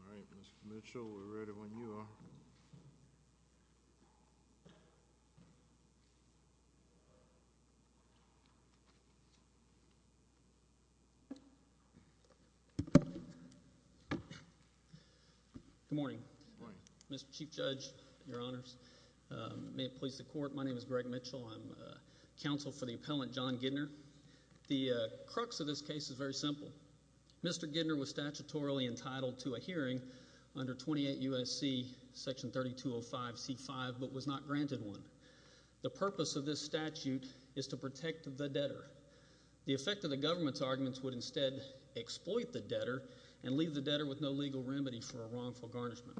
All right, Mr. Mitchell, we're ready when you are. Good morning, Mr. Chief Judge, your honors, may it please the court, my name is Greg Mitchell, I'm counsel for the appellant John Gidner. The crux of this case is very simple. Mr. Gidner was statutorily entitled to a hearing under 28 U.S.C. section 3205c5 but was not granted one. The purpose of this statute is to protect the debtor. The effect of the government's arguments would instead exploit the debtor and leave the debtor with no legal remedy for a wrongful garnishment.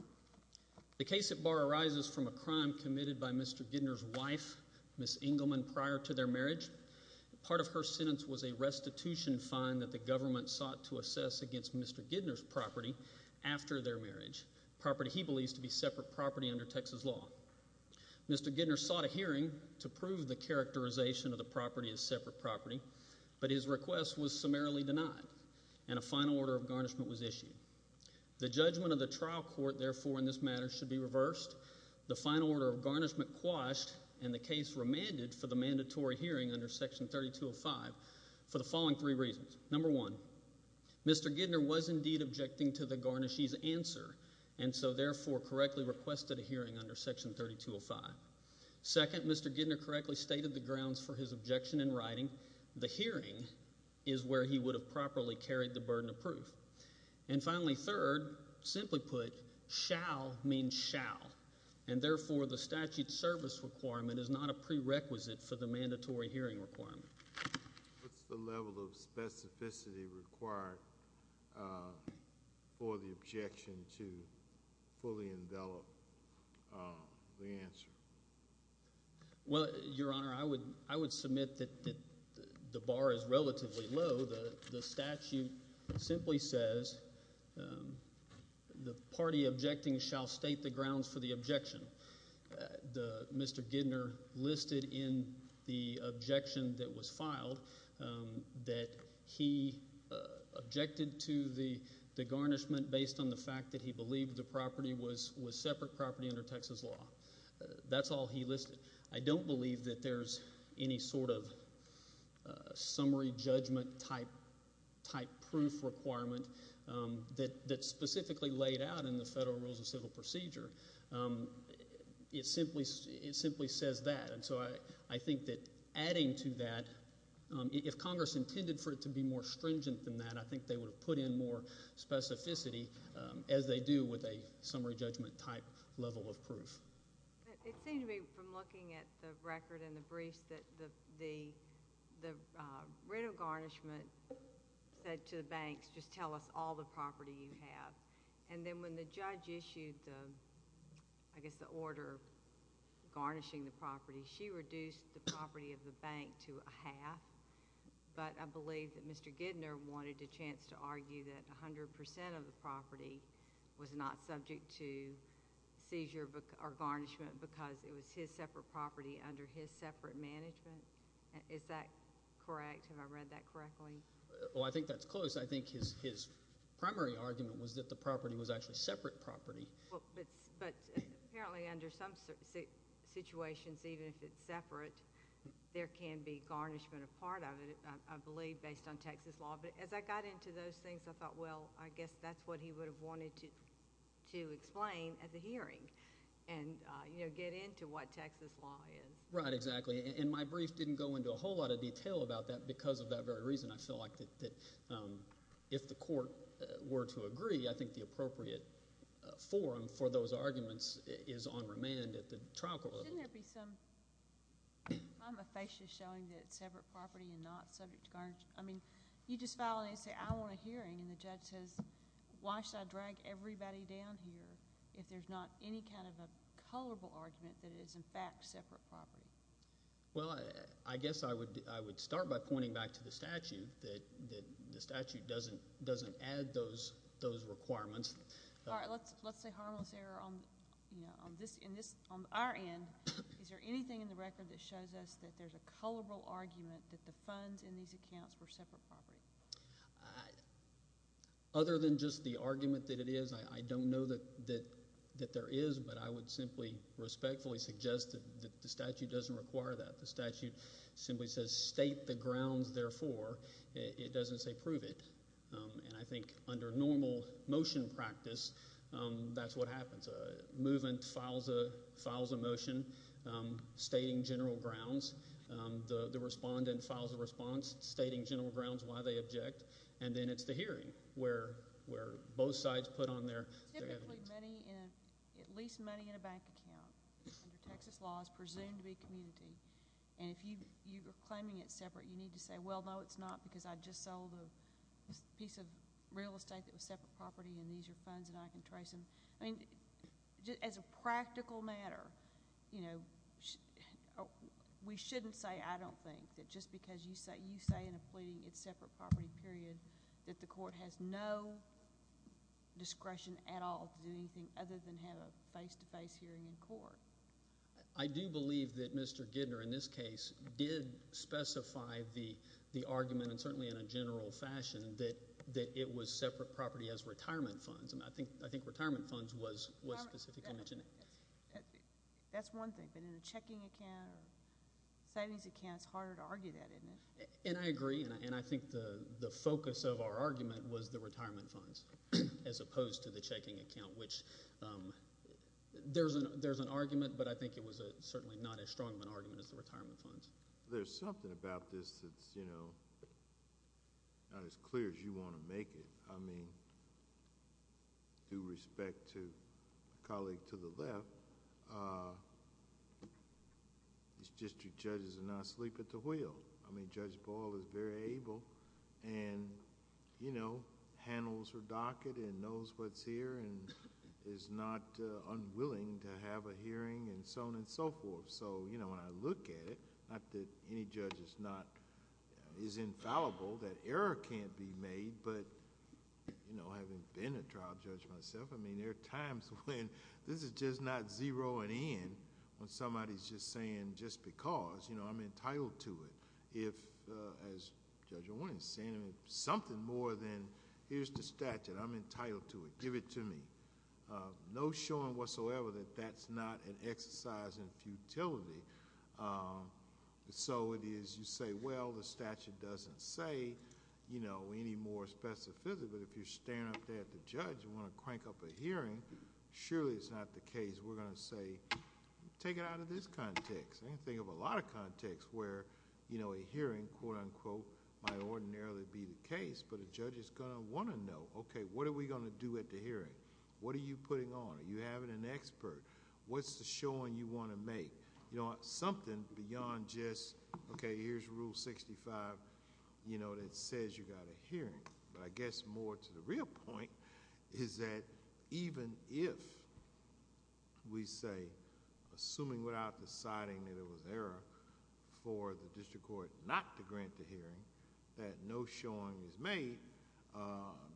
The case at bar arises from a crime committed by Mr. Gidner's wife, Ms. Engelman, prior to their marriage. Part of her sentence was a restitution fine that the government sought to assess against Mr. Gidner's property after their marriage, property he believes to be separate property under Texas law. Mr. Gidner sought a hearing to prove the characterization of the property as separate property but his request was summarily denied and a final order of garnishment was issued. The judgment of the trial court, therefore, in this matter should be reversed. The final order of garnishment quashed and the case remanded for the mandatory hearing under section 3205 for the following three reasons. Number one, Mr. Gidner was indeed objecting to the garnishee's answer and so therefore correctly requested a hearing under section 3205. Second, Mr. Gidner correctly stated the grounds for his objection in writing. The hearing is where he would have properly carried the burden of proof. And finally, third, simply put, shall means shall and therefore the statute service requirement is not a prerequisite for the mandatory hearing requirement. What's the level of specificity required for the objection to fully envelop the answer? Well, Your Honor, I would submit that the bar is relatively low. The statute simply says the party objecting shall state the grounds for the objection. Mr. Gidner listed in the objection that was filed that he objected to the garnishment based on the fact that he believed the property was separate property under Texas law. That's all he listed. I don't believe that there's any sort of summary judgment type proof requirement that's specifically laid out in the Federal Rules of Civil Procedure. It simply says that and so I think that adding to that, if Congress intended for it to be more stringent than that, I think they would have put in more specificity as they do with a summary judgment type level of proof. It seemed to me from looking at the record and the briefs that the writ of garnishment said to the banks, just tell us all the property you have. Then when the judge issued, I guess, the order garnishing the property, she reduced the property of the bank to a half, but I believe that Mr. Gidner wanted a chance to argue that 100 percent of the property was not subject to seizure or garnishment because it was his separate property under his separate management. Is that correct? Have I read that correctly? Well, I think that's close. I think his primary argument was that the property was actually separate property. But apparently under some situations, even if it's separate, there can be garnishment a part of it, I believe, based on Texas law, but as I got into those things, I thought, well, I guess that's what he would have wanted to explain at the hearing and get into what Texas law is. Right, exactly. My brief didn't go into a whole lot of detail about that because of that very reason. I feel like that if the court were to agree, I think the appropriate forum for those arguments is on remand at the trial court level. Shouldn't there be some kind of facet showing that it's separate property and not subject to garnishment? I mean, you just file an essay, I want a hearing, and the judge says, why should I drag everybody down here if there's not any kind of a colorable argument that it is, in fact, separate property? Well, I guess I would start by pointing back to the statute, that the statute doesn't add those requirements. All right. Let's say harmless error on our end. Is there anything in the record that shows us that there's a colorable argument that the funds in these accounts were separate property? Other than just the argument that it is, I don't know that there is, but I would simply respectfully suggest that the statute doesn't require that. The statute simply says, state the grounds, therefore. It doesn't say prove it, and I think under normal motion practice, that's what happens. Movement files a motion stating general grounds. The respondent files a response stating general grounds why they object, and then it's the hearing where both sides put on their evidence. Typically, at least money in a bank account, under Texas law, is presumed to be community. If you are claiming it's separate, you need to say, well, no, it's not, because I just sold a piece of real estate that was separate property, and these are funds, and I can trace them. As a practical matter, we shouldn't say, I don't think, just because you say in a pleading it's separate property period, that the court has no discretion at all to do anything other than have a face-to-face hearing in court. I do believe that Mr. Gidner, in this case, did specify the argument, and certainly in a general fashion, that it was separate property as retirement funds. I think retirement funds was specifically mentioned. That's one thing, but in a checking account or savings account, it's harder to argue that, isn't it? I agree, and I think the focus of our argument was the retirement funds, as opposed to the checking account, which there's an argument, but I think it was certainly not as strong of an argument as the retirement funds. There's something about this that's not as clear as you want to make it. Due respect to a colleague to the left, these district judges are not asleep at the wheel. Judge Ball is very able, and handles her docket, and knows what's here, and is not unwilling to have a hearing, and so on and so forth. When I look at it, not that any judge is infallible, that error can't be made, but having been a trial judge myself, there are times when this is just not zeroing in, when somebody's just saying, just because, I'm entitled to it. If, as Judge Owen is saying, something more than here's the statute, I'm entitled to it, give it to me. No showing whatsoever that that's not an exercise in futility. It is, you say, well, the statute doesn't say any more specificity, but if you're standing up there at the judge, you want to crank up a hearing, surely it's not the case. We're going to say, take it out of this context. I can think of a lot of contexts where a hearing, quote-unquote, might ordinarily be the case, but a judge is going to want to know, okay, what are we going to do at the hearing? What are you putting on? Are you having an expert? What's the showing you want to make? Something beyond just, okay, here's Rule 65 that says you've got a hearing, but I guess more to the real point is that even if, we say, assuming without deciding that it was error for the district court not to grant the hearing, that no showing is made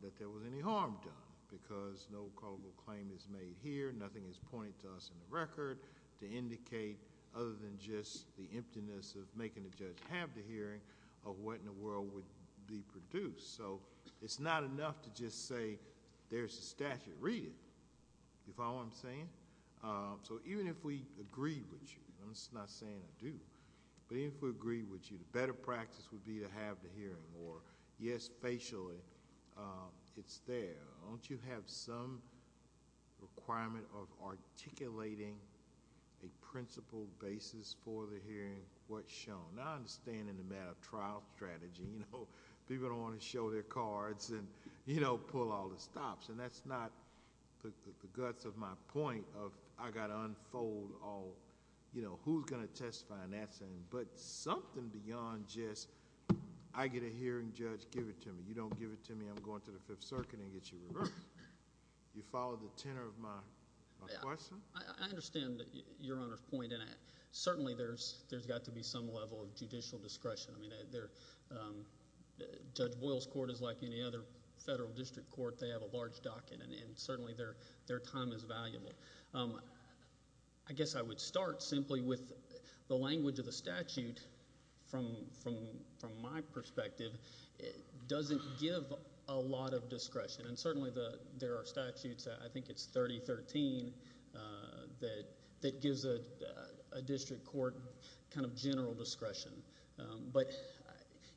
that there was any harm done, because no colloquial claim is made here, nothing is pointed to us in the record to indicate, other than just the emptiness of making the judge have the hearing, of what in the world would be produced. It's not enough to just say, there's a statute, read it, you follow what I'm saying? Even if we agree with you, I'm just not saying I do, but even if we agree with you, the better practice would be to have the hearing, or yes, facially, it's there. Don't you have some requirement of articulating a principle basis for the hearing, what's shown? I understand in the matter of trial strategy, people don't want to show their cards and pull all the stops, and that's not the guts of my point of, I've got to unfold all... who's going to testify on that side, but something beyond just, I get a hearing, judge, give it to me. You don't give it to me, I'm going to the Fifth Circuit and get you reversed. You follow the tenor of my question? I understand your Honor's point, and certainly there's got to be some level of judicial discretion. Judge Boyle's court is like any other federal district court, they have a large docket, and certainly their time is valuable. I guess I would start simply with the language of the statute, from my perspective, doesn't give a lot of discretion, and certainly there are statutes, I think it's 3013, that gives a district court kind of general discretion. But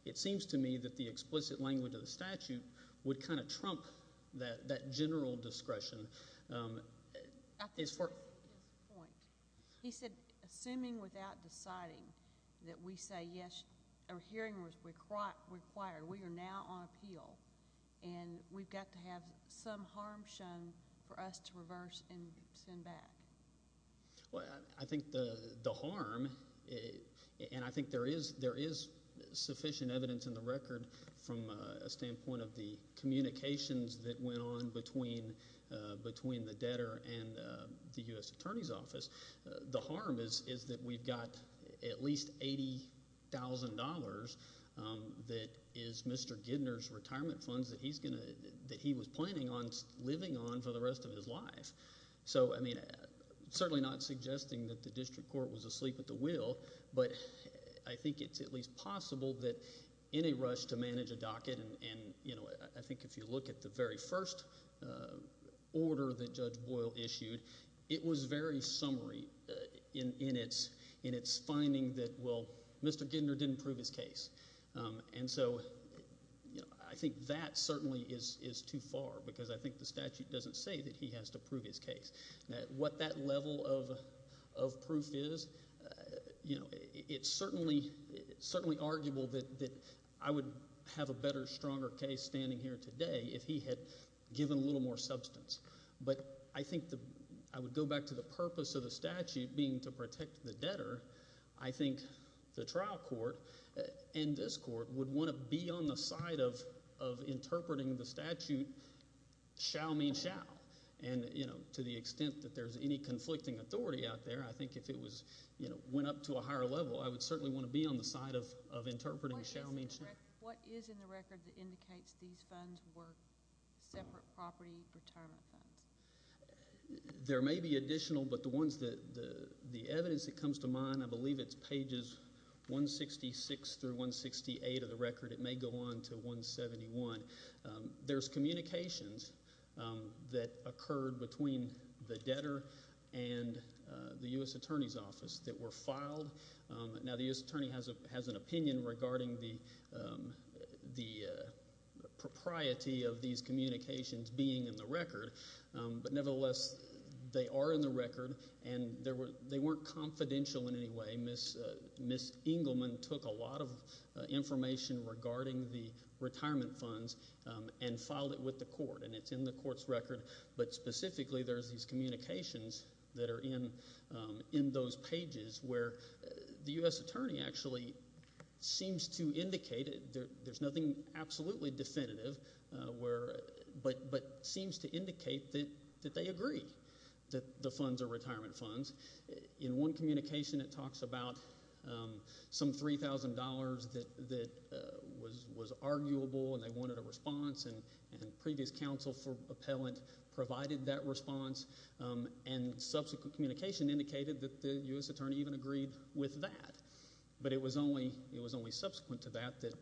it seems to me that the explicit language of the statute would kind of trump that general discretion... At this point, he said, assuming without deciding, that we say, yes, a hearing was required, we are now on appeal, and we've got to have some harm shown for us to reverse and send back. I think the harm, and I think there is sufficient evidence in the record, from a standpoint of the communications that went on between the debtor and the U.S. Attorney's Office, the harm is that we've got at least $80,000 that is Mr. Gidner's retirement funds that he was planning on living on for the rest of his life. So I mean, certainly not suggesting that the district court was asleep at the wheel, but I think it's at least possible that in a rush to manage a docket, and I think if you look at the very first order that Judge Boyle issued, it was very summary in its finding that, well, Mr. Gidner didn't prove his case. And so I think that certainly is too far, because I think the statute doesn't say that he has to prove his case. What that level of proof is, it's certainly arguable that I would have a better, stronger case standing here today if he had given a little more substance. But I think I would go back to the purpose of the statute being to protect the debtor. I think the trial court and this court would want to be on the side of interpreting the statute shall mean shall. And to the extent that there's any conflicting authority out there, I think if it went up to a higher level, I would certainly want to be on the side of interpreting shall mean shall. What is in the record that indicates these funds were separate property retirement funds? There may be additional, but the ones that, the evidence that comes to mind, I believe it's pages 166 through 168 of the record. It may go on to 171. There's communications that occurred between the debtor and the U.S. Attorney's Office that were filed. Now, the U.S. Attorney has an opinion regarding the propriety of these communications being in the record, but nevertheless, they are in the record and they weren't confidential in any way. Ms. Engelman took a lot of information regarding the retirement funds and filed it with the court. And it's in the court's record, but specifically there's these communications that are in those pages where the U.S. Attorney actually seems to indicate, there's nothing absolutely definitive, but seems to indicate that they agree that the funds are retirement funds. In one communication it talks about some $3,000 that was arguable and they wanted a response and previous counsel for appellant provided that response and subsequent communication indicated that the U.S. Attorney even agreed with that, but it was only subsequent to that that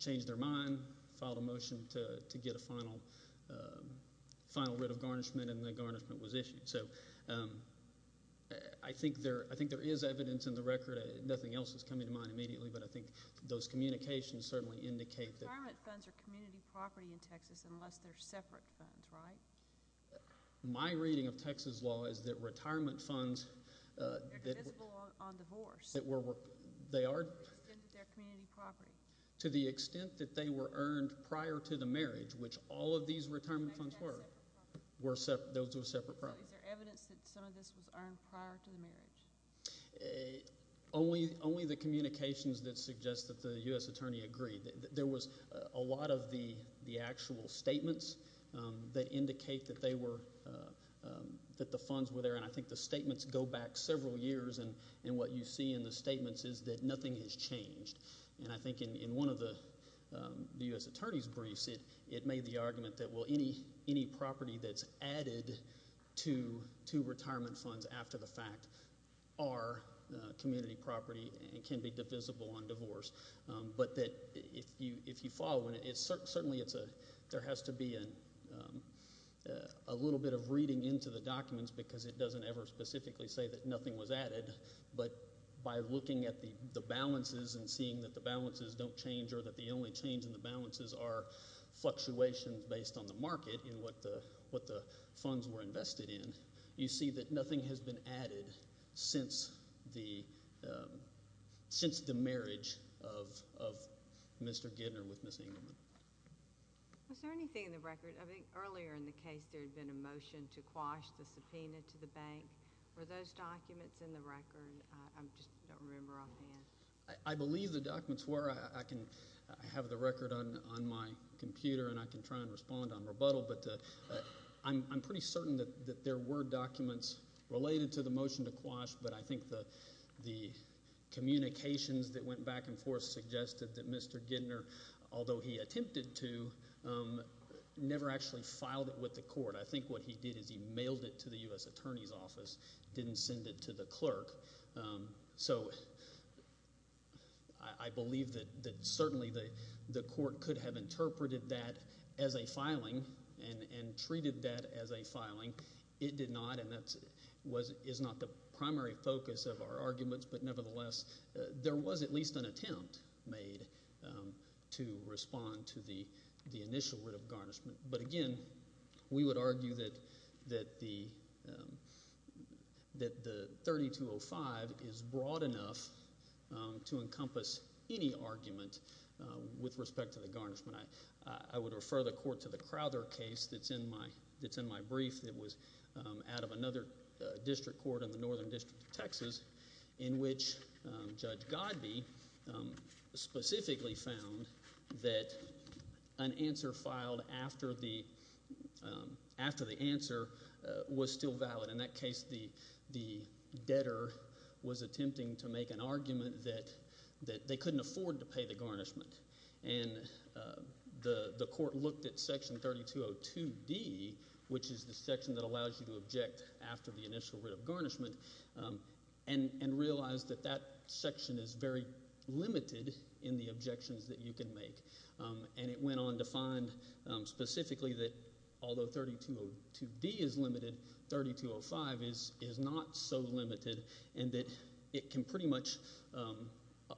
changed their mind, filed a motion to get a final writ of garnishment and the garnishment was issued. So, I think there is evidence in the record. Nothing else is coming to mind immediately, but I think those communications certainly indicate that. Retirement funds are community property in Texas unless they're separate funds, right? My reading of Texas law is that retirement funds that were, they are, to the extent that they were earned prior to the marriage, which all of these retirement funds were, were separate, those were separate properties. So, is there evidence that some of this was earned prior to the marriage? Only the communications that suggest that the U.S. Attorney agreed. There was a lot of the actual statements that indicate that they were, that the funds were there and I think the statements go back several years and what you see in the statements is that nothing has changed. And I think in one of the U.S. Attorney's briefs it made the argument that, well, any property that's added to retirement funds after the fact are community property and can be divisible on divorce. But that if you follow, and it's certainly, there has to be a little bit of reading into the documents because it doesn't ever specifically say that nothing was added, but by looking at the balances and seeing that the balances don't change or that the only change in the balances are fluctuations based on the market in what the funds were invested in, you see that nothing has been added since the, since the marriage of Mr. Gidner with Ms. Engelman. Was there anything in the record, I think earlier in the case there had been a motion to quash the subpoena to the bank. Were those documents in the record? I just don't remember offhand. I believe the documents were. I have the record on my computer and I can try and respond on rebuttal, but I'm pretty certain that there were documents related to the motion to quash, but I think the communications that went back and forth suggested that Mr. Gidner, although he attempted to, never actually filed it with the court. I think what he did is he mailed it to the U.S. Attorney's Office, didn't send it to the clerk. So I believe that certainly the court could have interpreted that as a filing and treated that as a filing. It did not and that is not the primary focus of our arguments, but nevertheless there was at least an attempt made to respond to the initial writ of garnishment. But again, we would argue that the 3205 is broad enough to encompass any argument with respect to the garnishment. I would refer the court to the Crowther case that's in my brief that was out of another district court in the Northern District of Texas, in which Judge Godbee specifically found that an answer filed after the answer was still valid. In that case, the debtor was attempting to make an argument that they couldn't afford to pay the garnishment and the court looked at Section 3202D, which is the section that allows you to object after the initial writ of garnishment, and realized that that section is very limited in the objections that you can make. And it went on to find specifically that although 3202D is limited, 3205 is not so limited and that it can pretty much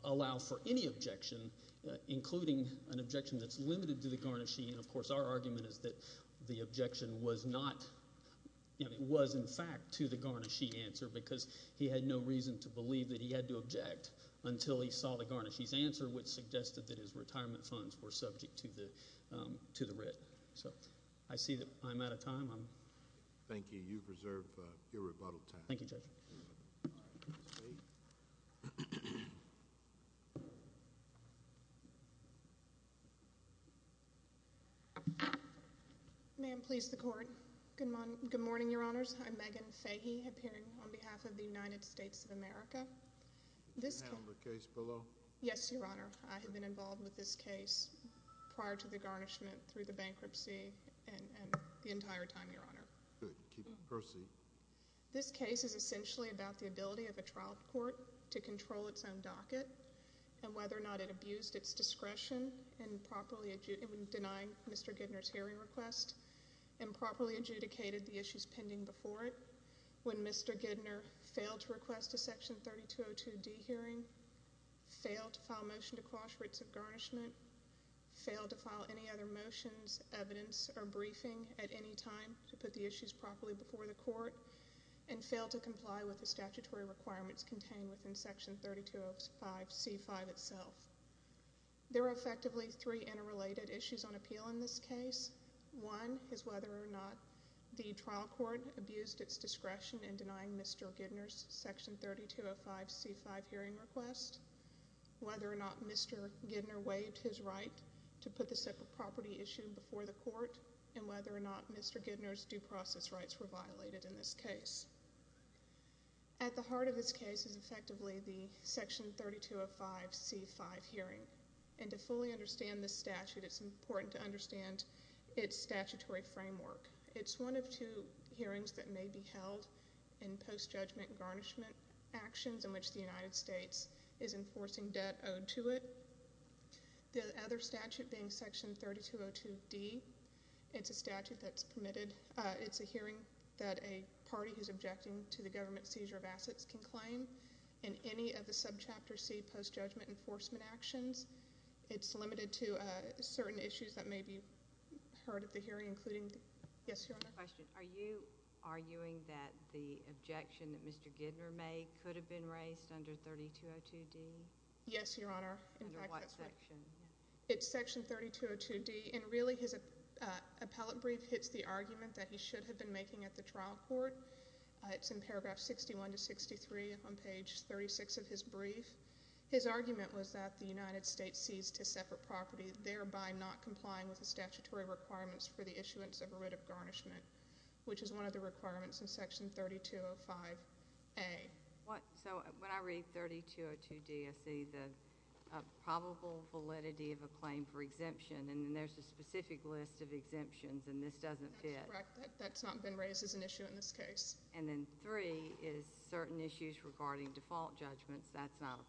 allow for any objection, including an objection that's limited to the garnishing. And of course, our argument is that the objection was not, you know, it was in fact to the garnishing answer because he had no reason to believe that he had to object until he saw the garnishing's answer, which suggested that his retirement funds were subject to the writ. So I see that I'm out of time. Thank you. You preserve your rebuttal time. Thank you, Judge. All right. State. May it please the Court. Good morning, Your Honors. I'm Megan Fahy, appearing on behalf of the United States of America. This case… Can I have the case below? Yes, Your Honor. I have been involved with this case prior to the garnishment, through the bankruptcy, and the entire time, Your Honor. Good. Keep the proceed. This case is essentially about the ability of a trial court to control its own docket and whether or not it abused its discretion in properly denying Mr. Gidner's hearing request and properly adjudicated the issues pending before it when Mr. Gidner failed to request a Section 3202D hearing, failed to file a motion to quash writs of garnishment, failed to file any other motions, evidence, or briefing at any time to put the issues properly before the Court, and failed to comply with the statutory requirements contained within Section 3205C5 itself. There are effectively three interrelated issues on appeal in this case. One is whether or not the trial court abused its discretion in denying Mr. Gidner's Section 3205C5 hearing request, whether or not Mr. Gidner waived his right to put the Mr. Gidner's due process rights were violated in this case. At the heart of this case is effectively the Section 3205C5 hearing. And to fully understand this statute, it's important to understand its statutory framework. It's one of two hearings that may be held in post-judgment garnishment actions in which the United States is enforcing debt owed to it. The other statute being Section 3202D, it's a statute that's permitted. It's a hearing that a party who's objecting to the government's seizure of assets can claim in any of the Subchapter C post-judgment enforcement actions. It's limited to certain issues that may be heard at the hearing, including... Yes, Your Honor? Are you arguing that the objection that Mr. Gidner made could have been raised under 3202D? Yes, Your Honor. Under what section? It's Section 3202D. And really, his appellate brief hits the argument that he should have been making at the trial court. It's in paragraph 61 to 63 on page 36 of his brief. His argument was that the United States seized his separate property, thereby not complying with the statutory requirements for the issuance of a writ of garnishment, which is one of the requirements in Section 3205A. So, when I read 3202D, I see the probable validity of a claim for exemption, and then there's a specific list of exemptions, and this doesn't fit. That's correct. That's not been raised as an issue in this case. And then three is certain issues regarding default judgments. That's not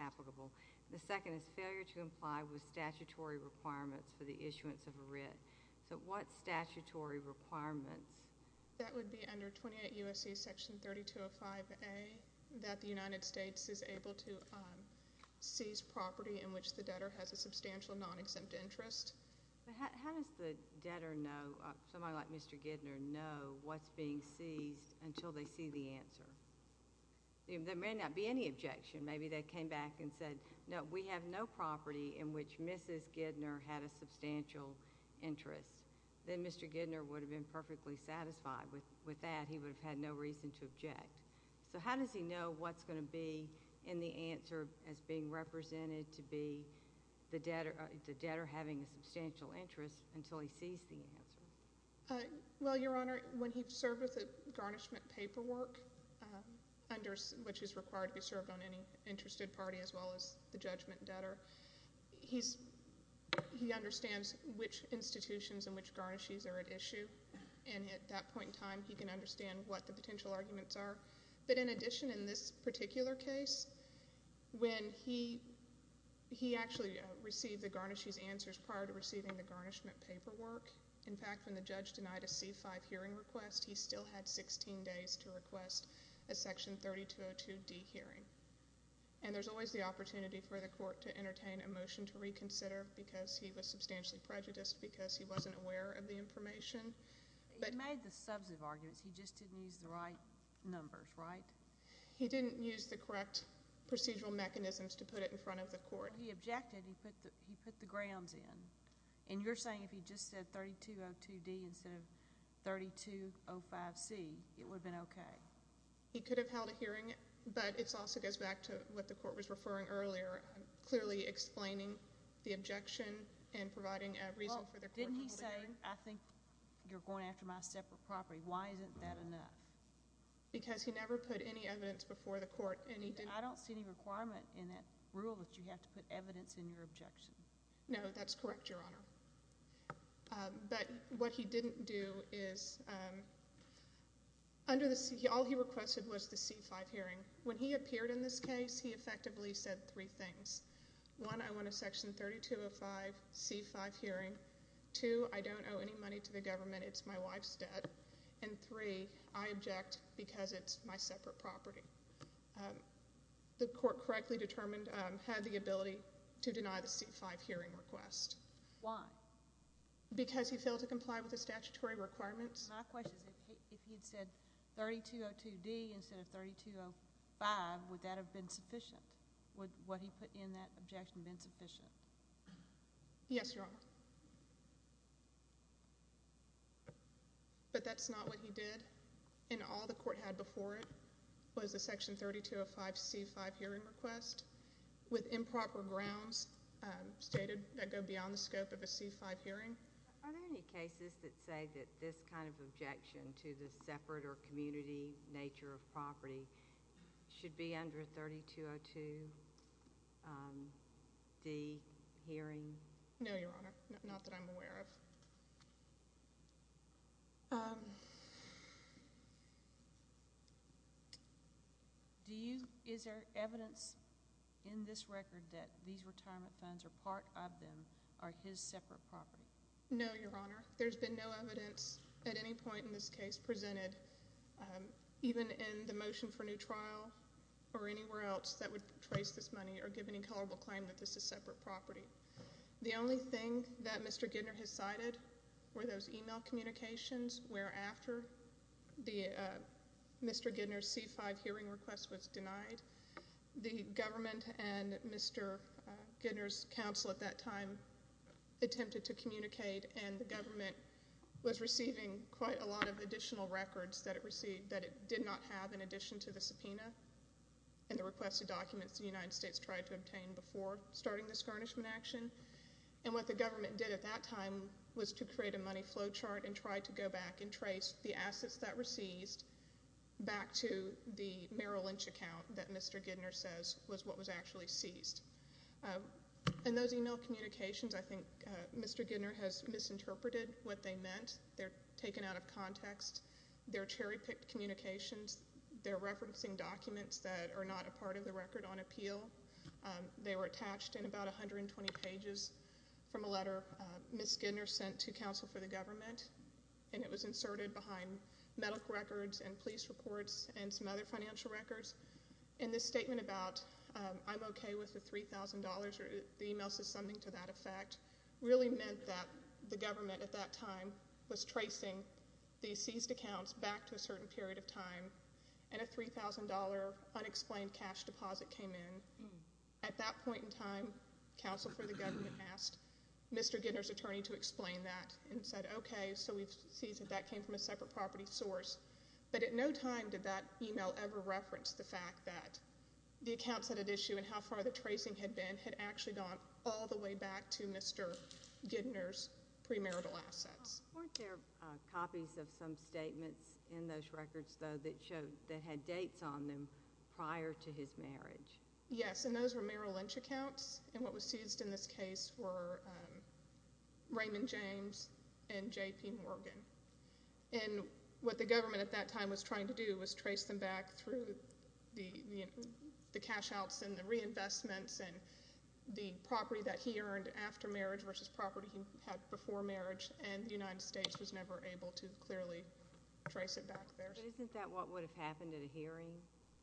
applicable. The second is failure to comply with statutory requirements for the issuance of a writ. So, what statutory requirements? That would be under 28 U.S.C. Section 3205A, that the United States is able to seize property in which the debtor has a substantial non-exempt interest. How does the debtor know, somebody like Mr. Gidner, know what's being seized until they see the answer? There may not be any objection. Maybe they came back and said, no, we have no property in which Mrs. Gidner had a substantial interest. Then Mr. Gidner would have been perfectly satisfied with that. He would have had no reason to object. So, how does he know what's going to be in the answer as being represented to be the debtor having a substantial interest until he sees the answer? Well, Your Honor, when he's served with a garnishment paperwork, which is required to be served on any interested party as well as the judgment debtor, he understands which institutions and which garnishes are at issue. And at that point in time, he can understand what the potential arguments are. But in addition, in this particular case, when he actually received the garnishes answers prior to receiving the garnishment paperwork, in fact, when the judge denied a C-5 hearing request, he still had 16 days to request a Section 3202D hearing. And there's always the opportunity for the court to entertain a motion to reconsider because he was substantially prejudiced because he wasn't aware of the information. He made the substantive arguments. He just didn't use the right numbers, right? He didn't use the correct procedural mechanisms to put it in front of the court. He objected. He put the grounds in. And you're saying if he just said 3202D instead of 3205C, it would have been okay? He could have held a hearing, but it also goes back to what the court was referring to earlier, clearly explaining the objection and providing a reason for the court to hold a hearing. Well, didn't he say, I think you're going after my separate property. Why isn't that enough? Because he never put any evidence before the court. I don't see any requirement in that rule that you have to put evidence in your objection. No, that's correct, Your Honor. But what he didn't do is, all he requested was the C-5 hearing. When he appeared in this case, he effectively said three things. One, I want a section 3205C-5 hearing. Two, I don't owe any money to the government. It's my wife's debt. And three, I object because it's my separate property. The court correctly determined had the ability to deny the C-5 hearing request. Why? Because he failed to comply with the statutory requirements. My question is, if he had said 3202D instead of 3205, would that have been sufficient? Would what he put in that objection have been sufficient? Yes, Your Honor. But that's not what he did. And all the court had before it was a section 3205C-5 hearing request, with improper grounds stated that go beyond the scope of a C-5 hearing. Are there any cases that say that this kind of objection to the separate or community nature of property should be under a 3202D hearing? No, Your Honor. Not that I'm aware of. Is there evidence in this record that these retirement funds or part of them are his separate property? No, Your Honor. There's been no evidence at any point in this case presented, even in the motion for new trial or anywhere else that would trace this money or give any colorable claim that this is separate property. The only thing that Mr. Gidner has cited were those email communications where after Mr. Gidner's C-5 hearing request was denied, the government and Mr. Gidner's counsel at that time attempted to communicate and the government was receiving quite a lot of additional records that it received that it did not have in addition to the subpoena and the requested documents the United States tried to obtain before starting the skarnishment action. And what the government did at that time was to create a money flow chart and try to go back and trace the assets that were seized back to the Merrill Lynch account that Mr. Gidner says was what was actually seized. And those email communications, I think Mr. Gidner has misinterpreted what they meant. They're taken out of context. They're cherry-picked communications. They're referencing documents that are not a part of the record on appeal. They were attached in about 120 pages from a letter Ms. Gidner sent to counsel for the government. And it was inserted behind medical records and police reports and some other financial records. And this statement about I'm okay with the $3,000 or the email says something to that effect really meant that the government at that time was tracing the seized accounts back to a certain period of time and a $3,000 unexplained cash deposit came in. At that point in time, counsel for the government asked Mr. Gidner's attorney to explain that and said, okay, so we've seized it. That came from a separate property source. But at no time did that email ever reference the fact that the accounts that it issued and how far the tracing had been had actually gone all the way back to Mr. Gidner's premarital assets. Weren't there copies of some statements in those records, though, that had dates on them prior to his marriage? Yes, and those were Merrill Lynch accounts. And what was seized in this case were Raymond James and J.P. Morgan. And what the government at that time was trying to do was trace them back through the cash outs and the reinvestments and the property that he earned after marriage versus property he had before marriage. And the United States was never able to clearly trace it back there. But isn't that what would have happened at a hearing?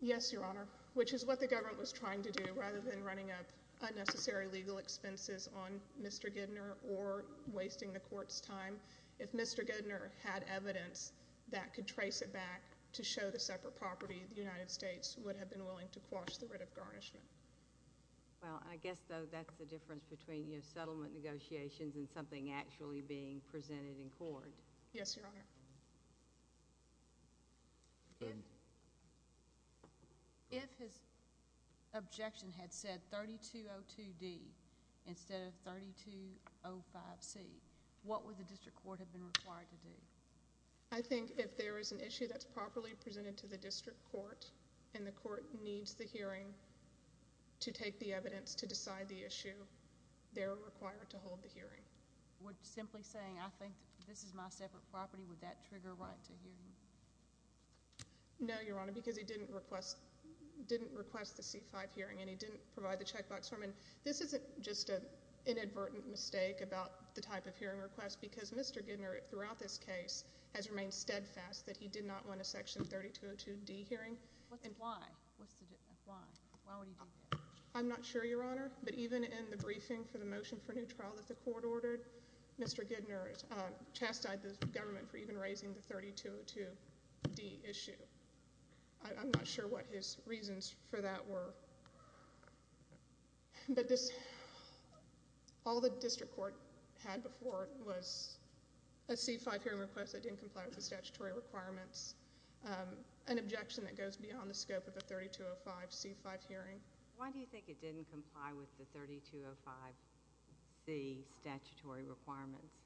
Yes, Your Honor, which is what the government was trying to do rather than running up unnecessary legal expenses on Mr. Gidner or wasting the court's time. If Mr. Gidner had evidence that could trace it back to show the separate property, the United States would have been willing to quash the writ of garnishment. Well, I guess, though, that's the difference between, you know, settlement negotiations and something actually being presented in court. Yes, Your Honor. If his objection had said 3202D instead of 3205C, what would the district court have been required to do? I think if there is an issue that's properly presented to the district court and the court needs the hearing to take the evidence to decide the issue, would simply saying, I think this is my separate property, would that trigger a right to hearing? No, Your Honor, because he didn't request the C-5 hearing and he didn't provide the checkbox for him. This isn't just an inadvertent mistake about the type of hearing request because Mr. Gidner, throughout this case, has remained steadfast that he did not want a section 3202D hearing. Why? Why would he do that? I'm not sure, Your Honor, but even in the briefing for the motion for new trial that the court ordered, Mr. Gidner chastised the government for even raising the 3202D issue. I'm not sure what his reasons for that were. But this, all the district court had before was a C-5 hearing request that didn't comply with the statutory requirements, an objection that goes beyond the scope of a 3205C-5 hearing. Why do you think it didn't comply with the 3205C statutory requirements?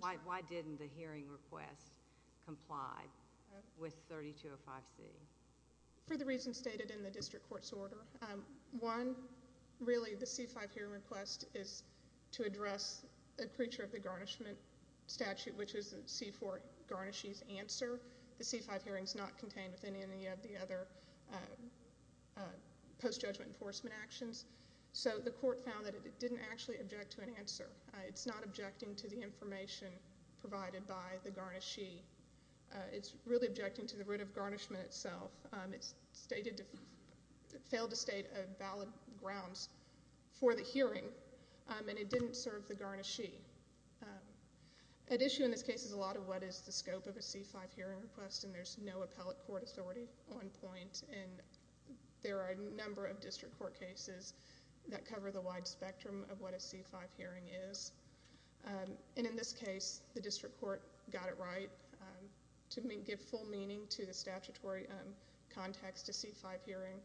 Why didn't the hearing request comply with 3205C? For the reasons stated in the district court's order. One, really, the C-5 hearing request is to address a creature of the garnishment statute, which is the C-4 garnishes answer. The C-5 hearing is not contained within any of the other post-judgment enforcement actions. So the court found that it didn't actually object to an answer. It's not objecting to the information provided by the garnishee. It's really objecting to the root of garnishment itself. It failed to state valid grounds for the hearing, and it didn't serve the garnishee. At issue in this case is a lot of what is the scope of a C-5 hearing request, and there's no appellate court authority on point. And there are a number of district court cases that cover the wide spectrum of what a C-5 hearing is. And in this case, the district court got it right to give full meaning to the statutory context to C-5 hearing,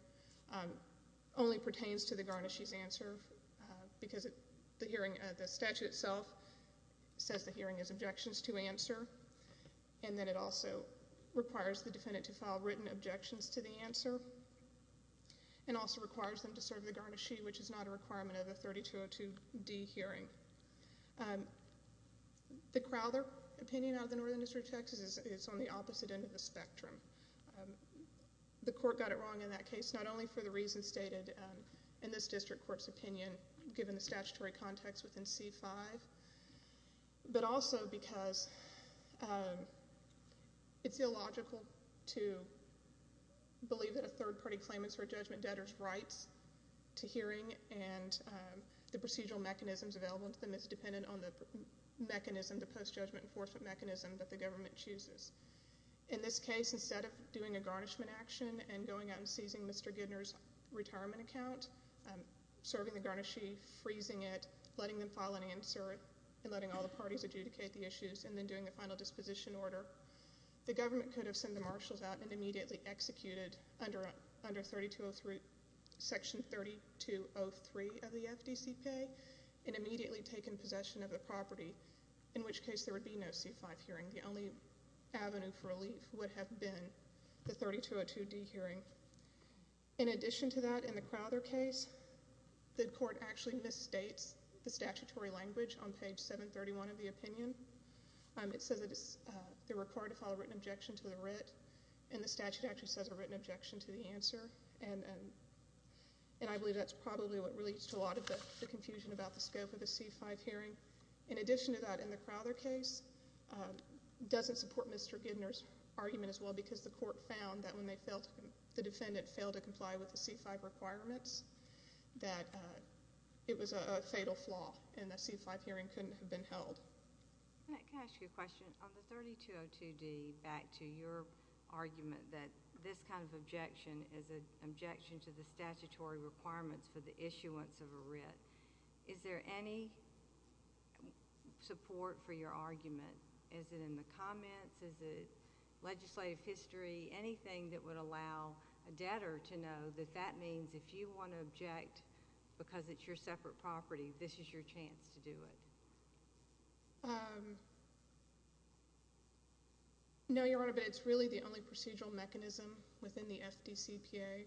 only pertains to the garnishee's answer, because the statute itself says the hearing is objections to answer, and then it also requires the defendant to file written objections to the answer, and also requires them to serve the garnishee, which is not a requirement of the 3202D hearing. The Crowther opinion out of the Northern District of Texas is on the opposite end of the spectrum. The court got it wrong in that case, not only for the reasons stated in this district court's opinion, given the statutory context within C-5, but also because it's illogical to believe that a third-party claimant's or a judgment debtor's rights to hearing and the procedural mechanisms available to them is dependent on the mechanism, the post-judgment enforcement mechanism that the government chooses. In this case, instead of doing a garnishment action and going out and seizing Mr. Gidner's retirement account, serving the garnishee, freezing it, letting them file an answer, and letting all the parties adjudicate the issues, and then doing the final disposition order, the government could have sent the marshals out and immediately executed under Section 3203 of the FDC pay, and immediately taken possession of the property, in which case there would be no C-5 hearing. The only avenue for relief would have been the 3202D hearing. In addition to that, in the Crowther case, the court actually misstates the statutory language on page 731 of the opinion. It says that they're required to file a written objection to the writ, and the statute actually says a written objection to the answer, and I believe that's probably what leads to a lot of the confusion about the scope of the C-5 hearing. In addition to that, in the Crowther case, it doesn't support Mr. Gidner's argument as well, because the court found that when the defendant failed to comply with the C-5 requirements, that it was a fatal flaw, and the C-5 hearing couldn't have been held. Can I ask you a question? On the 3202D, back to your argument that this kind of objection is an objection to the statutory requirements for the issuance of a writ, is there any support for your argument? Is it in the comments? Is it legislative history, anything that would allow a debtor to know that that means if you want to object because it's your separate property, this is your chance to do it? No, Your Honor, but it's really the only procedural mechanism within the FDCPA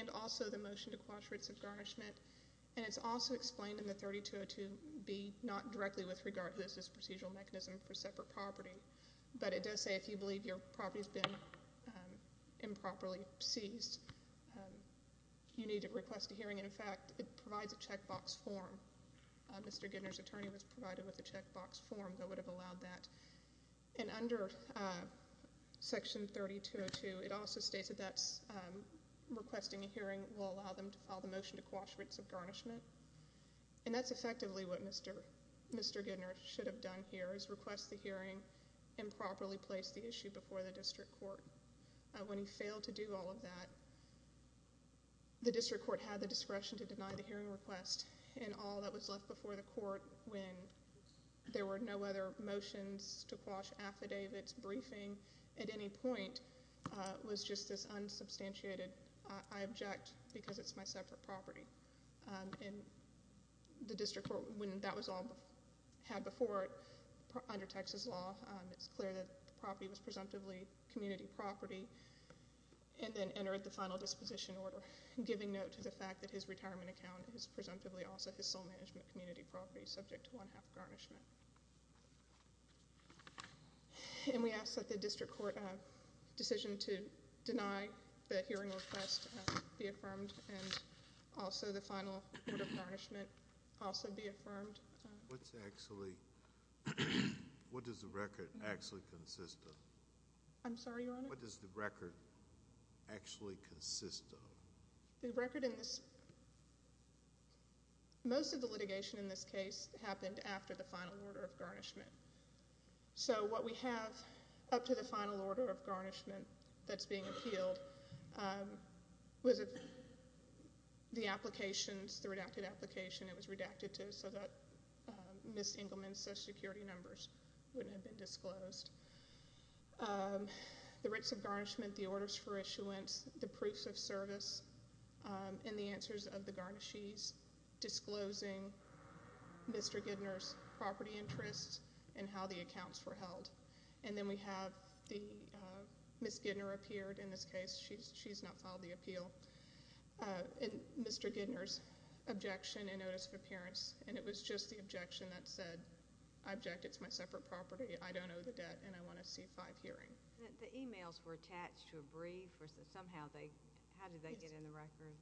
and also the motion to quash rates of garnishment, and it's also explained in the 3202B not directly with regard to this as a procedural mechanism for separate property, but it does say if you believe your property has been improperly seized, you need to request a hearing. In fact, it provides a checkbox form. Mr. Gidner's attorney was provided with a checkbox form that would have allowed that. And under Section 3202, it also states that requesting a hearing will allow them to file the motion to quash rates of garnishment. And that's effectively what Mr. Gidner should have done here is request the hearing and properly place the issue before the district court. When he failed to do all of that, the district court had the discretion to deny the hearing request and all that was left before the court when there were no other motions to quash affidavits, briefing at any point was just this unsubstantiated, I object because it's my separate property. And the district court, when that was all had before it under Texas law, it's clear that the property was presumptively community property, and then entered the final disposition order giving note to the fact that his retirement account is presumptively also his sole management community property subject to one-half garnishment. And we ask that the district court decision to deny the hearing request be affirmed and also the final order of garnishment also be affirmed. What's actually, what does the record actually consist of? I'm sorry, Your Honor? What does the record actually consist of? The record in this, most of the litigation in this case happened after the final order of garnishment. So what we have up to the final order of garnishment that's being appealed was the applications, the redacted application, it was redacted to so that Ms. Engelman's social security numbers wouldn't have been disclosed. The rates of garnishment, the orders for issuance, the proofs of service, and the answers of the garnishees disclosing Mr. Gidner's property interests and how the accounts were held. And then we have the, Ms. Gidner appeared in this case, she's not filed the appeal, and Mr. Gidner's objection and notice of appearance. And it was just the objection that said, I object, it's my separate property, I don't owe the debt, and I want a C-5 hearing. The emails were attached to a brief or somehow they, how did they get in the record?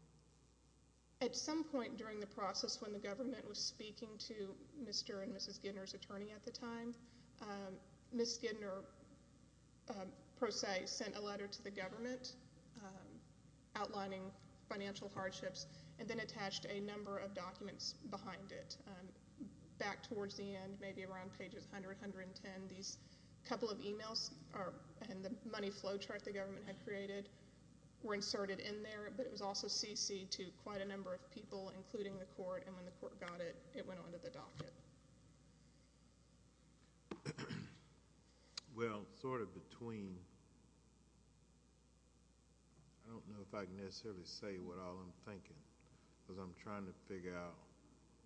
At some point during the process when the government was speaking to Mr. and Mrs. Gidner's attorney at the time, Ms. Gidner, per se, sent a letter to the government outlining financial hardships, and then attached a number of documents behind it. Back towards the end, maybe around pages 100, 110, these couple of emails and the money flow chart the government had created were inserted in there, but it was also CC'd to quite a number of people, including the court, and when the court got it, it went on to the docket. Well, sort of between, I don't know if I can necessarily say what all I'm thinking, because I'm trying to figure out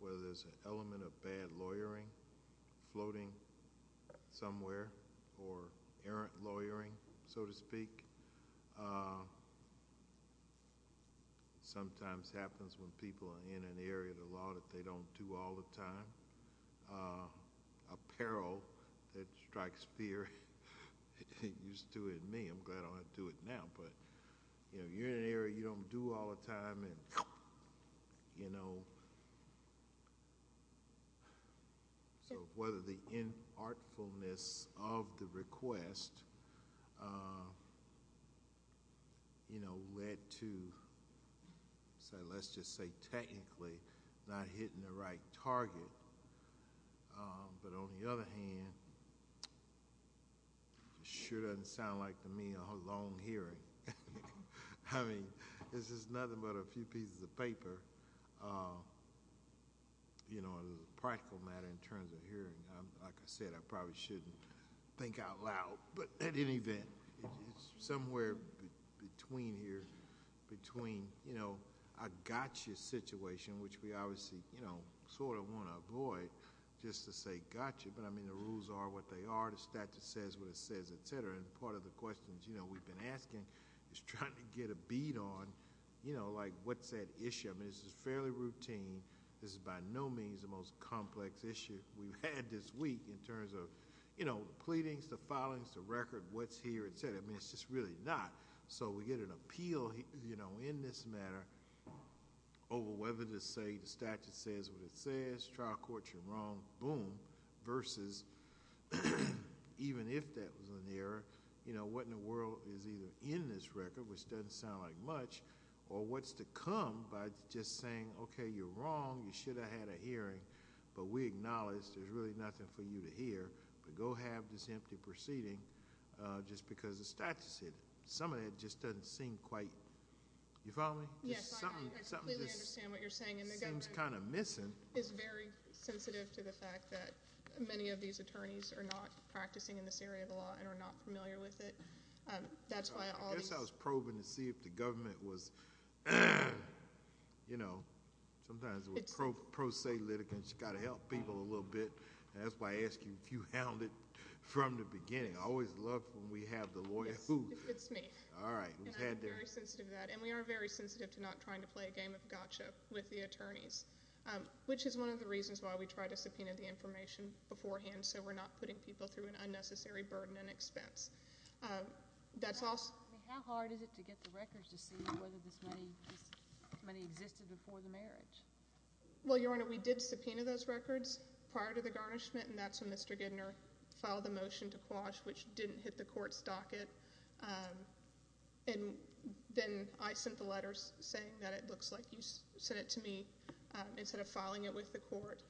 whether there's an element of bad lawyering floating somewhere, or errant lawyering, so to speak. Sometimes happens when people are in an area of the law that they don't do all the time. Apparel, that strikes fear, it used to in me, I'm glad I don't have to do it now, but you're in an area you don't do all the time, so whether the artfulness of the request led to, let's just say technically, not hitting the right target, but on the other hand, sure doesn't sound like to me a long hearing. I mean, this is nothing but a few pieces of paper, you know, a practical matter in terms of hearing. Like I said, I probably shouldn't think out loud, but at any event, it's somewhere between here, between a gotcha situation, which we obviously sort of want to avoid, just to say gotcha, but I mean, the rules are what they are, the statute says what it says, et cetera, and part of the questions we've been asking is trying to get a beat on, you know, like, what's that issue? I mean, this is fairly routine, this is by no means the most complex issue we've had this week in terms of, you know, the pleadings, the filings, the record, what's here, et cetera. I mean, it's just really not, so we get an appeal in this matter over whether to say the statute says what it says, trial court, you're wrong, boom, versus even if that was an error, you know, what in the world is either in this record, which doesn't sound like much, or what's to come by just saying, okay, you're wrong, you should have had a hearing, but we acknowledge there's really nothing for you to hear, but go have this empty proceeding just because the statute said it. Some of that just doesn't seem quite, you follow me? Yes, I completely understand what you're saying, and the government is very sensitive to the fact that many of these attorneys are not practicing in this area of the law and are not familiar with it. I guess I was probing to see if the government was, you know, sometimes we're pro se litigants, you've got to help people a little bit, and that's why I asked you if you hounded from the beginning. I always love when we have the lawyer, who? It's me. All right. And I'm very sensitive to that, and we are very sensitive to not trying to play a game of gotcha with the attorneys, which is one of the reasons why we try to subpoena the information beforehand so we're not putting people through an unnecessary burden and expense. How hard is it to get the records to see whether this money existed before the marriage? Well, Your Honor, we did subpoena those records prior to the garnishment, and that's when Mr. Gidner filed a motion to quash, which didn't hit the court's docket, and then I sent the letters saying that it looks like you sent it to me instead of filing it with the court.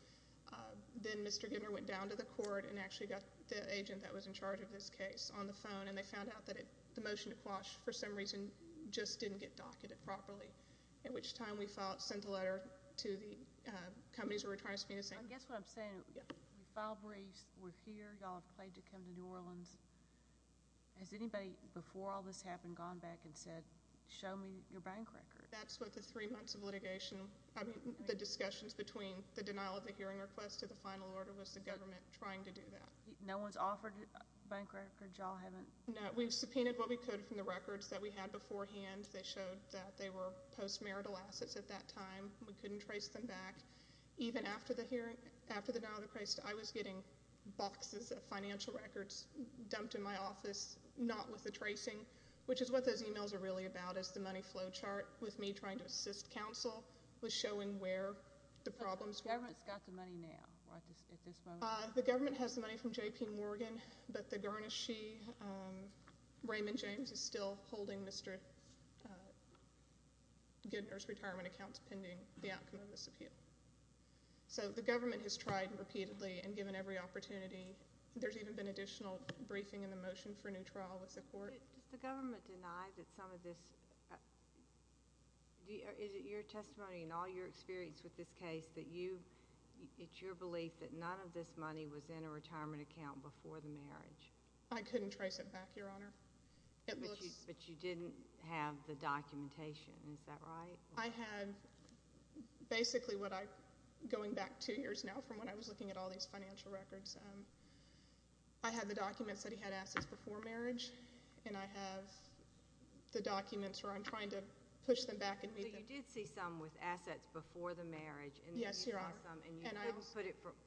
Then Mr. Gidner went down to the court and actually got the agent that was in charge of this case on the phone, and they found out that the motion to quash, for some reason, just didn't get docketed properly, at which time we filed, sent the letter to the companies we were trying to subpoena saying, I guess what I'm saying, we filed briefs, we're here, y'all have pledged to come to New Orleans. Has anybody, before all this happened, gone back and said, show me your bank record? That's what the three months of litigation, I mean, the discussions between the denial of the hearing request to the final order was the government trying to do that. No one's offered a bank record? Y'all haven't? No, we've subpoenaed what we could from the records that we had beforehand. They showed that they were post-marital assets at that time. We couldn't trace them back. Even after the denial of the request, I was getting boxes of financial records dumped in my office, not with the tracing, which is what those emails are really about, is the money flow chart, with me trying to assist counsel with showing where the problems were. So the government's got the money now? The government has the money from J.P. Morgan, but the garnishee, Raymond James, is still holding Mr. Gidner's retirement accounts pending the outcome of this appeal. So the government has tried repeatedly, and given every opportunity. There's even been additional briefing in the motion for a new trial with the court. Does the government deny that some of this... Is it your testimony and all your experience with this case that you... It's your belief that none of this money was in a retirement account before the marriage? I couldn't trace it back, Your Honor. But you didn't have the documentation. Is that right? I had basically what I... Going back two years now from when I was looking at all these financial records, I had the documents that he had assets before marriage, and I have the documents where I'm trying to push them back and read them. You did see some with assets before the marriage. Yes, Your Honor. And you didn't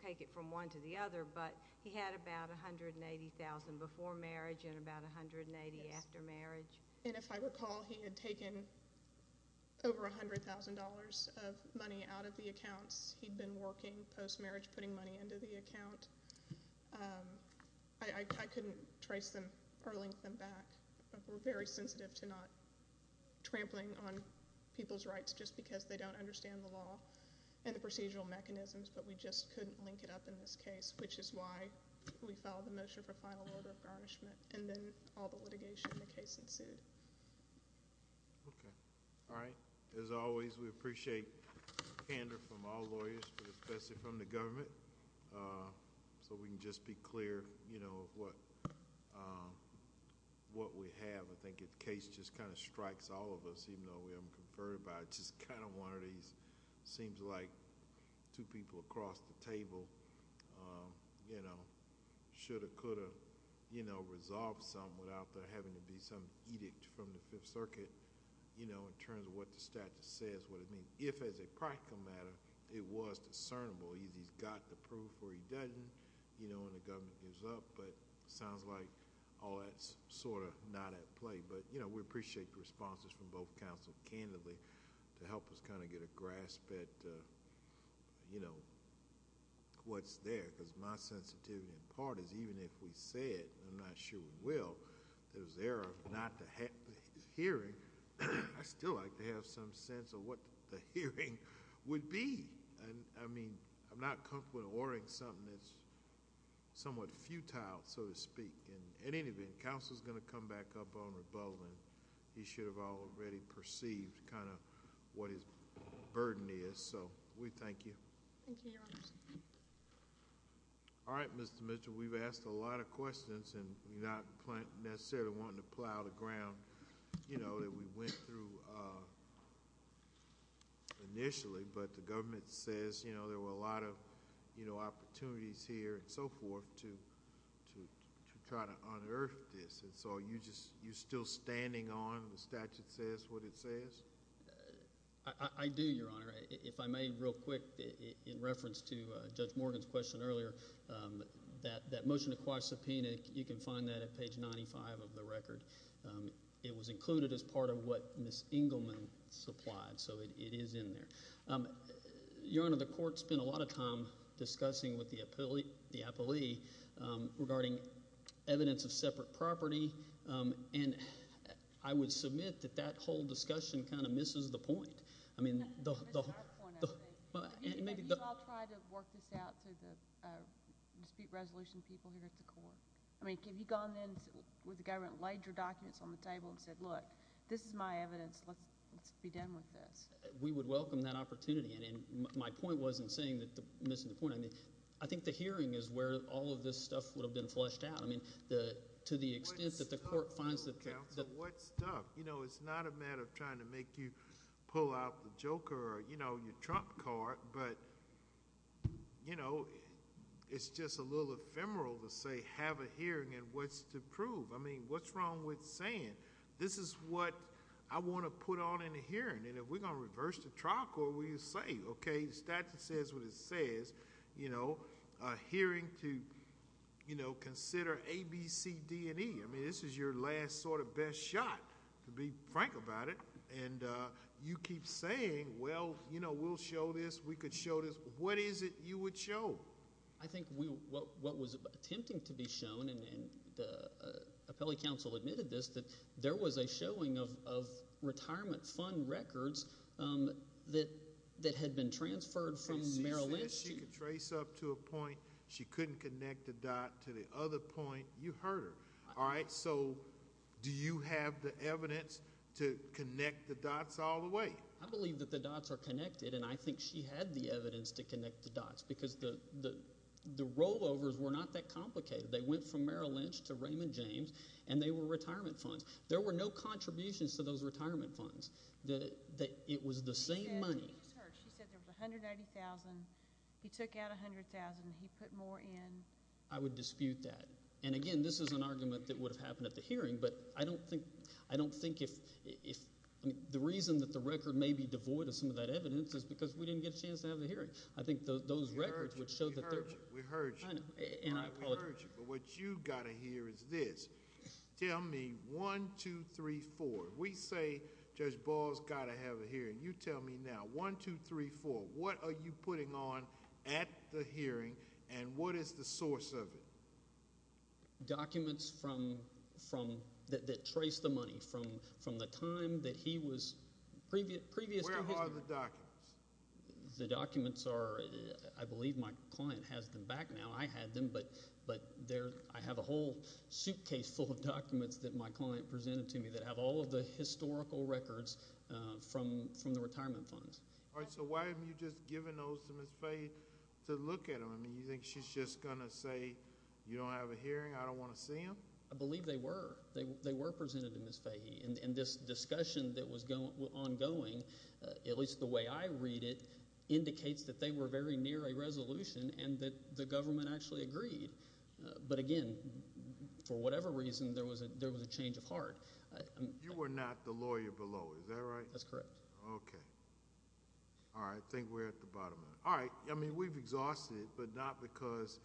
take it from one to the other, but he had about $180,000 before marriage and about $180,000 after marriage. And if I recall, he had taken over $100,000 of money out of the accounts he'd been working, post-marriage, putting money into the account. I couldn't trace them or link them back. We're very sensitive to not trampling on people's rights just because they don't understand the law and the procedural mechanisms, but we just couldn't link it up in this case, which is why we filed the motion for final order of garnishment, and then all the litigation in the case ensued. Okay. All right. As always, we appreciate the candor from all lawyers, but especially from the government, so we can just be clear of what we have. I think if the case just kind of strikes all of us, even though we haven't conferred by it, just kind of one of these, it seems like two people across the table should or could have resolved something without there having to be some edict from the Fifth Circuit in terms of what the statute says, what it means, if, as a practical matter, it was discernible. Either he's got the proof or he doesn't, and the government gives up, but it sounds like all that's sort of not at play, but we appreciate the responses from both counsel candidly to help us kind of get a grasp at what's there, because my sensitivity in part is, even if we said, and I'm not sure we will, that it was there not to hear it, I still like to have some sense of what the hearing would be. I mean, I'm not comfortable in ordering something that's somewhat futile, so to speak, and in any event, counsel's gonna come back up on rebuttal, and he should have already perceived kind of what his burden is, so we thank you. Thank you, Your Honor. All right, Mr. Mitchell, we've asked a lot of questions, and we're not necessarily wanting to plow the ground, you know, that we went through initially, but the government says, you know, there were a lot of opportunities here and so forth to try to unearth this, and so you're still standing on, the statute says what it says? I do, Your Honor. If I may, real quick, in reference to Judge Morgan's question earlier, you can find that at page 95 of the record. It was included as part of what Ms. Engelman supplied, so it is in there. Your Honor, the court spent a lot of time discussing with the appellee regarding evidence of separate property, and I would submit that that whole discussion kind of misses the point. I mean, the... It misses our point, I think. Have you all tried to work this out to the dispute resolution people here at the court? I mean, have you gone in with the government, laid your documents on the table, and said, look, this is my evidence, let's be done with this? We would welcome that opportunity, and my point wasn't missing the point. I mean, I think the hearing is where all of this stuff would have been flushed out. I mean, to the extent that the court finds that... What stuff? You know, it's not a matter of trying to make you pull out the joker or, you know, your trump card, but, you know, it's just a little ephemeral to say have a hearing and what's to prove. I mean, what's wrong with saying this is what I want to put on in the hearing, and if we're going to reverse the clock, what will you say? Okay, the statute says what it says, you know, a hearing to, you know, consider A, B, C, D, and E. I mean, this is your last sort of best shot, to be frank about it, and you keep saying, well, you know, we'll show this, we could show this. What is it you would show? I think what was attempting to be shown and the appellate counsel admitted this, that there was a showing of retirement fund records that had been transferred from Maryland. She said she could trace up to a point, she couldn't connect a dot to the other point. You heard her, all right? So do you have the evidence to connect the dots all the way? I believe that the dots are connected, and I think she had the evidence to connect the dots, because the rollovers were not that complicated. They went from Merrill Lynch to Raymond James, and they were retirement funds. There were no contributions to those retirement funds. It was the same money. She said there was $190,000, he took out $100,000, and he put more in. I would dispute that, and again, this is an argument that would have happened at the hearing, but I don't think, I don't think if, I mean, the reason that the record may be devoid of some of that evidence is because we didn't get a chance to have the hearing. I think those records would show that there. We heard you. I know, and I apologize. We heard you, but what you gotta hear is this. Tell me one, two, three, four. We say Judge Ball's gotta have a hearing. You tell me now, one, two, three, four. What are you putting on at the hearing, and what is the source of it? Documents from, that trace the money, from the time that he was, previous to his. Where are the documents? The documents are, I believe my client has them back now. I had them, but I have a whole suitcase full of documents that my client presented to me that have all of the historical records from the retirement funds. All right, so why haven't you just given those to Ms. Fahey to look at them? You think she's just gonna say, you don't have a hearing, I don't wanna see them? I believe they were. They were presented to Ms. Fahey, and this discussion that was ongoing, at least the way I read it, indicates that they were very near a resolution, and that the government actually agreed. But again, for whatever reason, there was a change of heart. You were not the lawyer below, is that right? That's correct. Okay. All right, I think we're at the bottom of it. All right, I mean, we've exhausted it, but not because,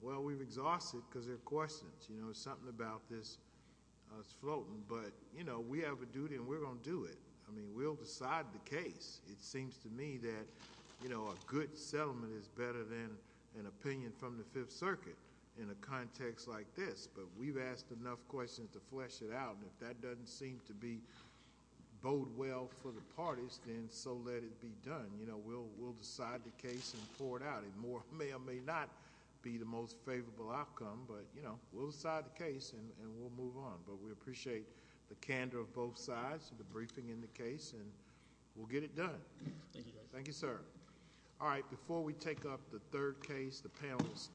well, we've exhausted it because there are questions. There's something about this that's floating, but we have a duty, and we're gonna do it. I mean, we'll decide the case. It seems to me that a good settlement is better than an opinion from the Fifth Circuit in a context like this, but we've asked enough questions to flesh it out, and if that doesn't seem to bode well for the parties, then so let it be done. We'll decide the case and pour it out. It may or may not be the most favorable outcome, but we'll decide the case, and we'll move on. But we appreciate the candor of both sides, and the briefing in the case, and we'll get it done. Thank you, Judge. Thank you, sir. All right, before we take up the third case, the panel will stand.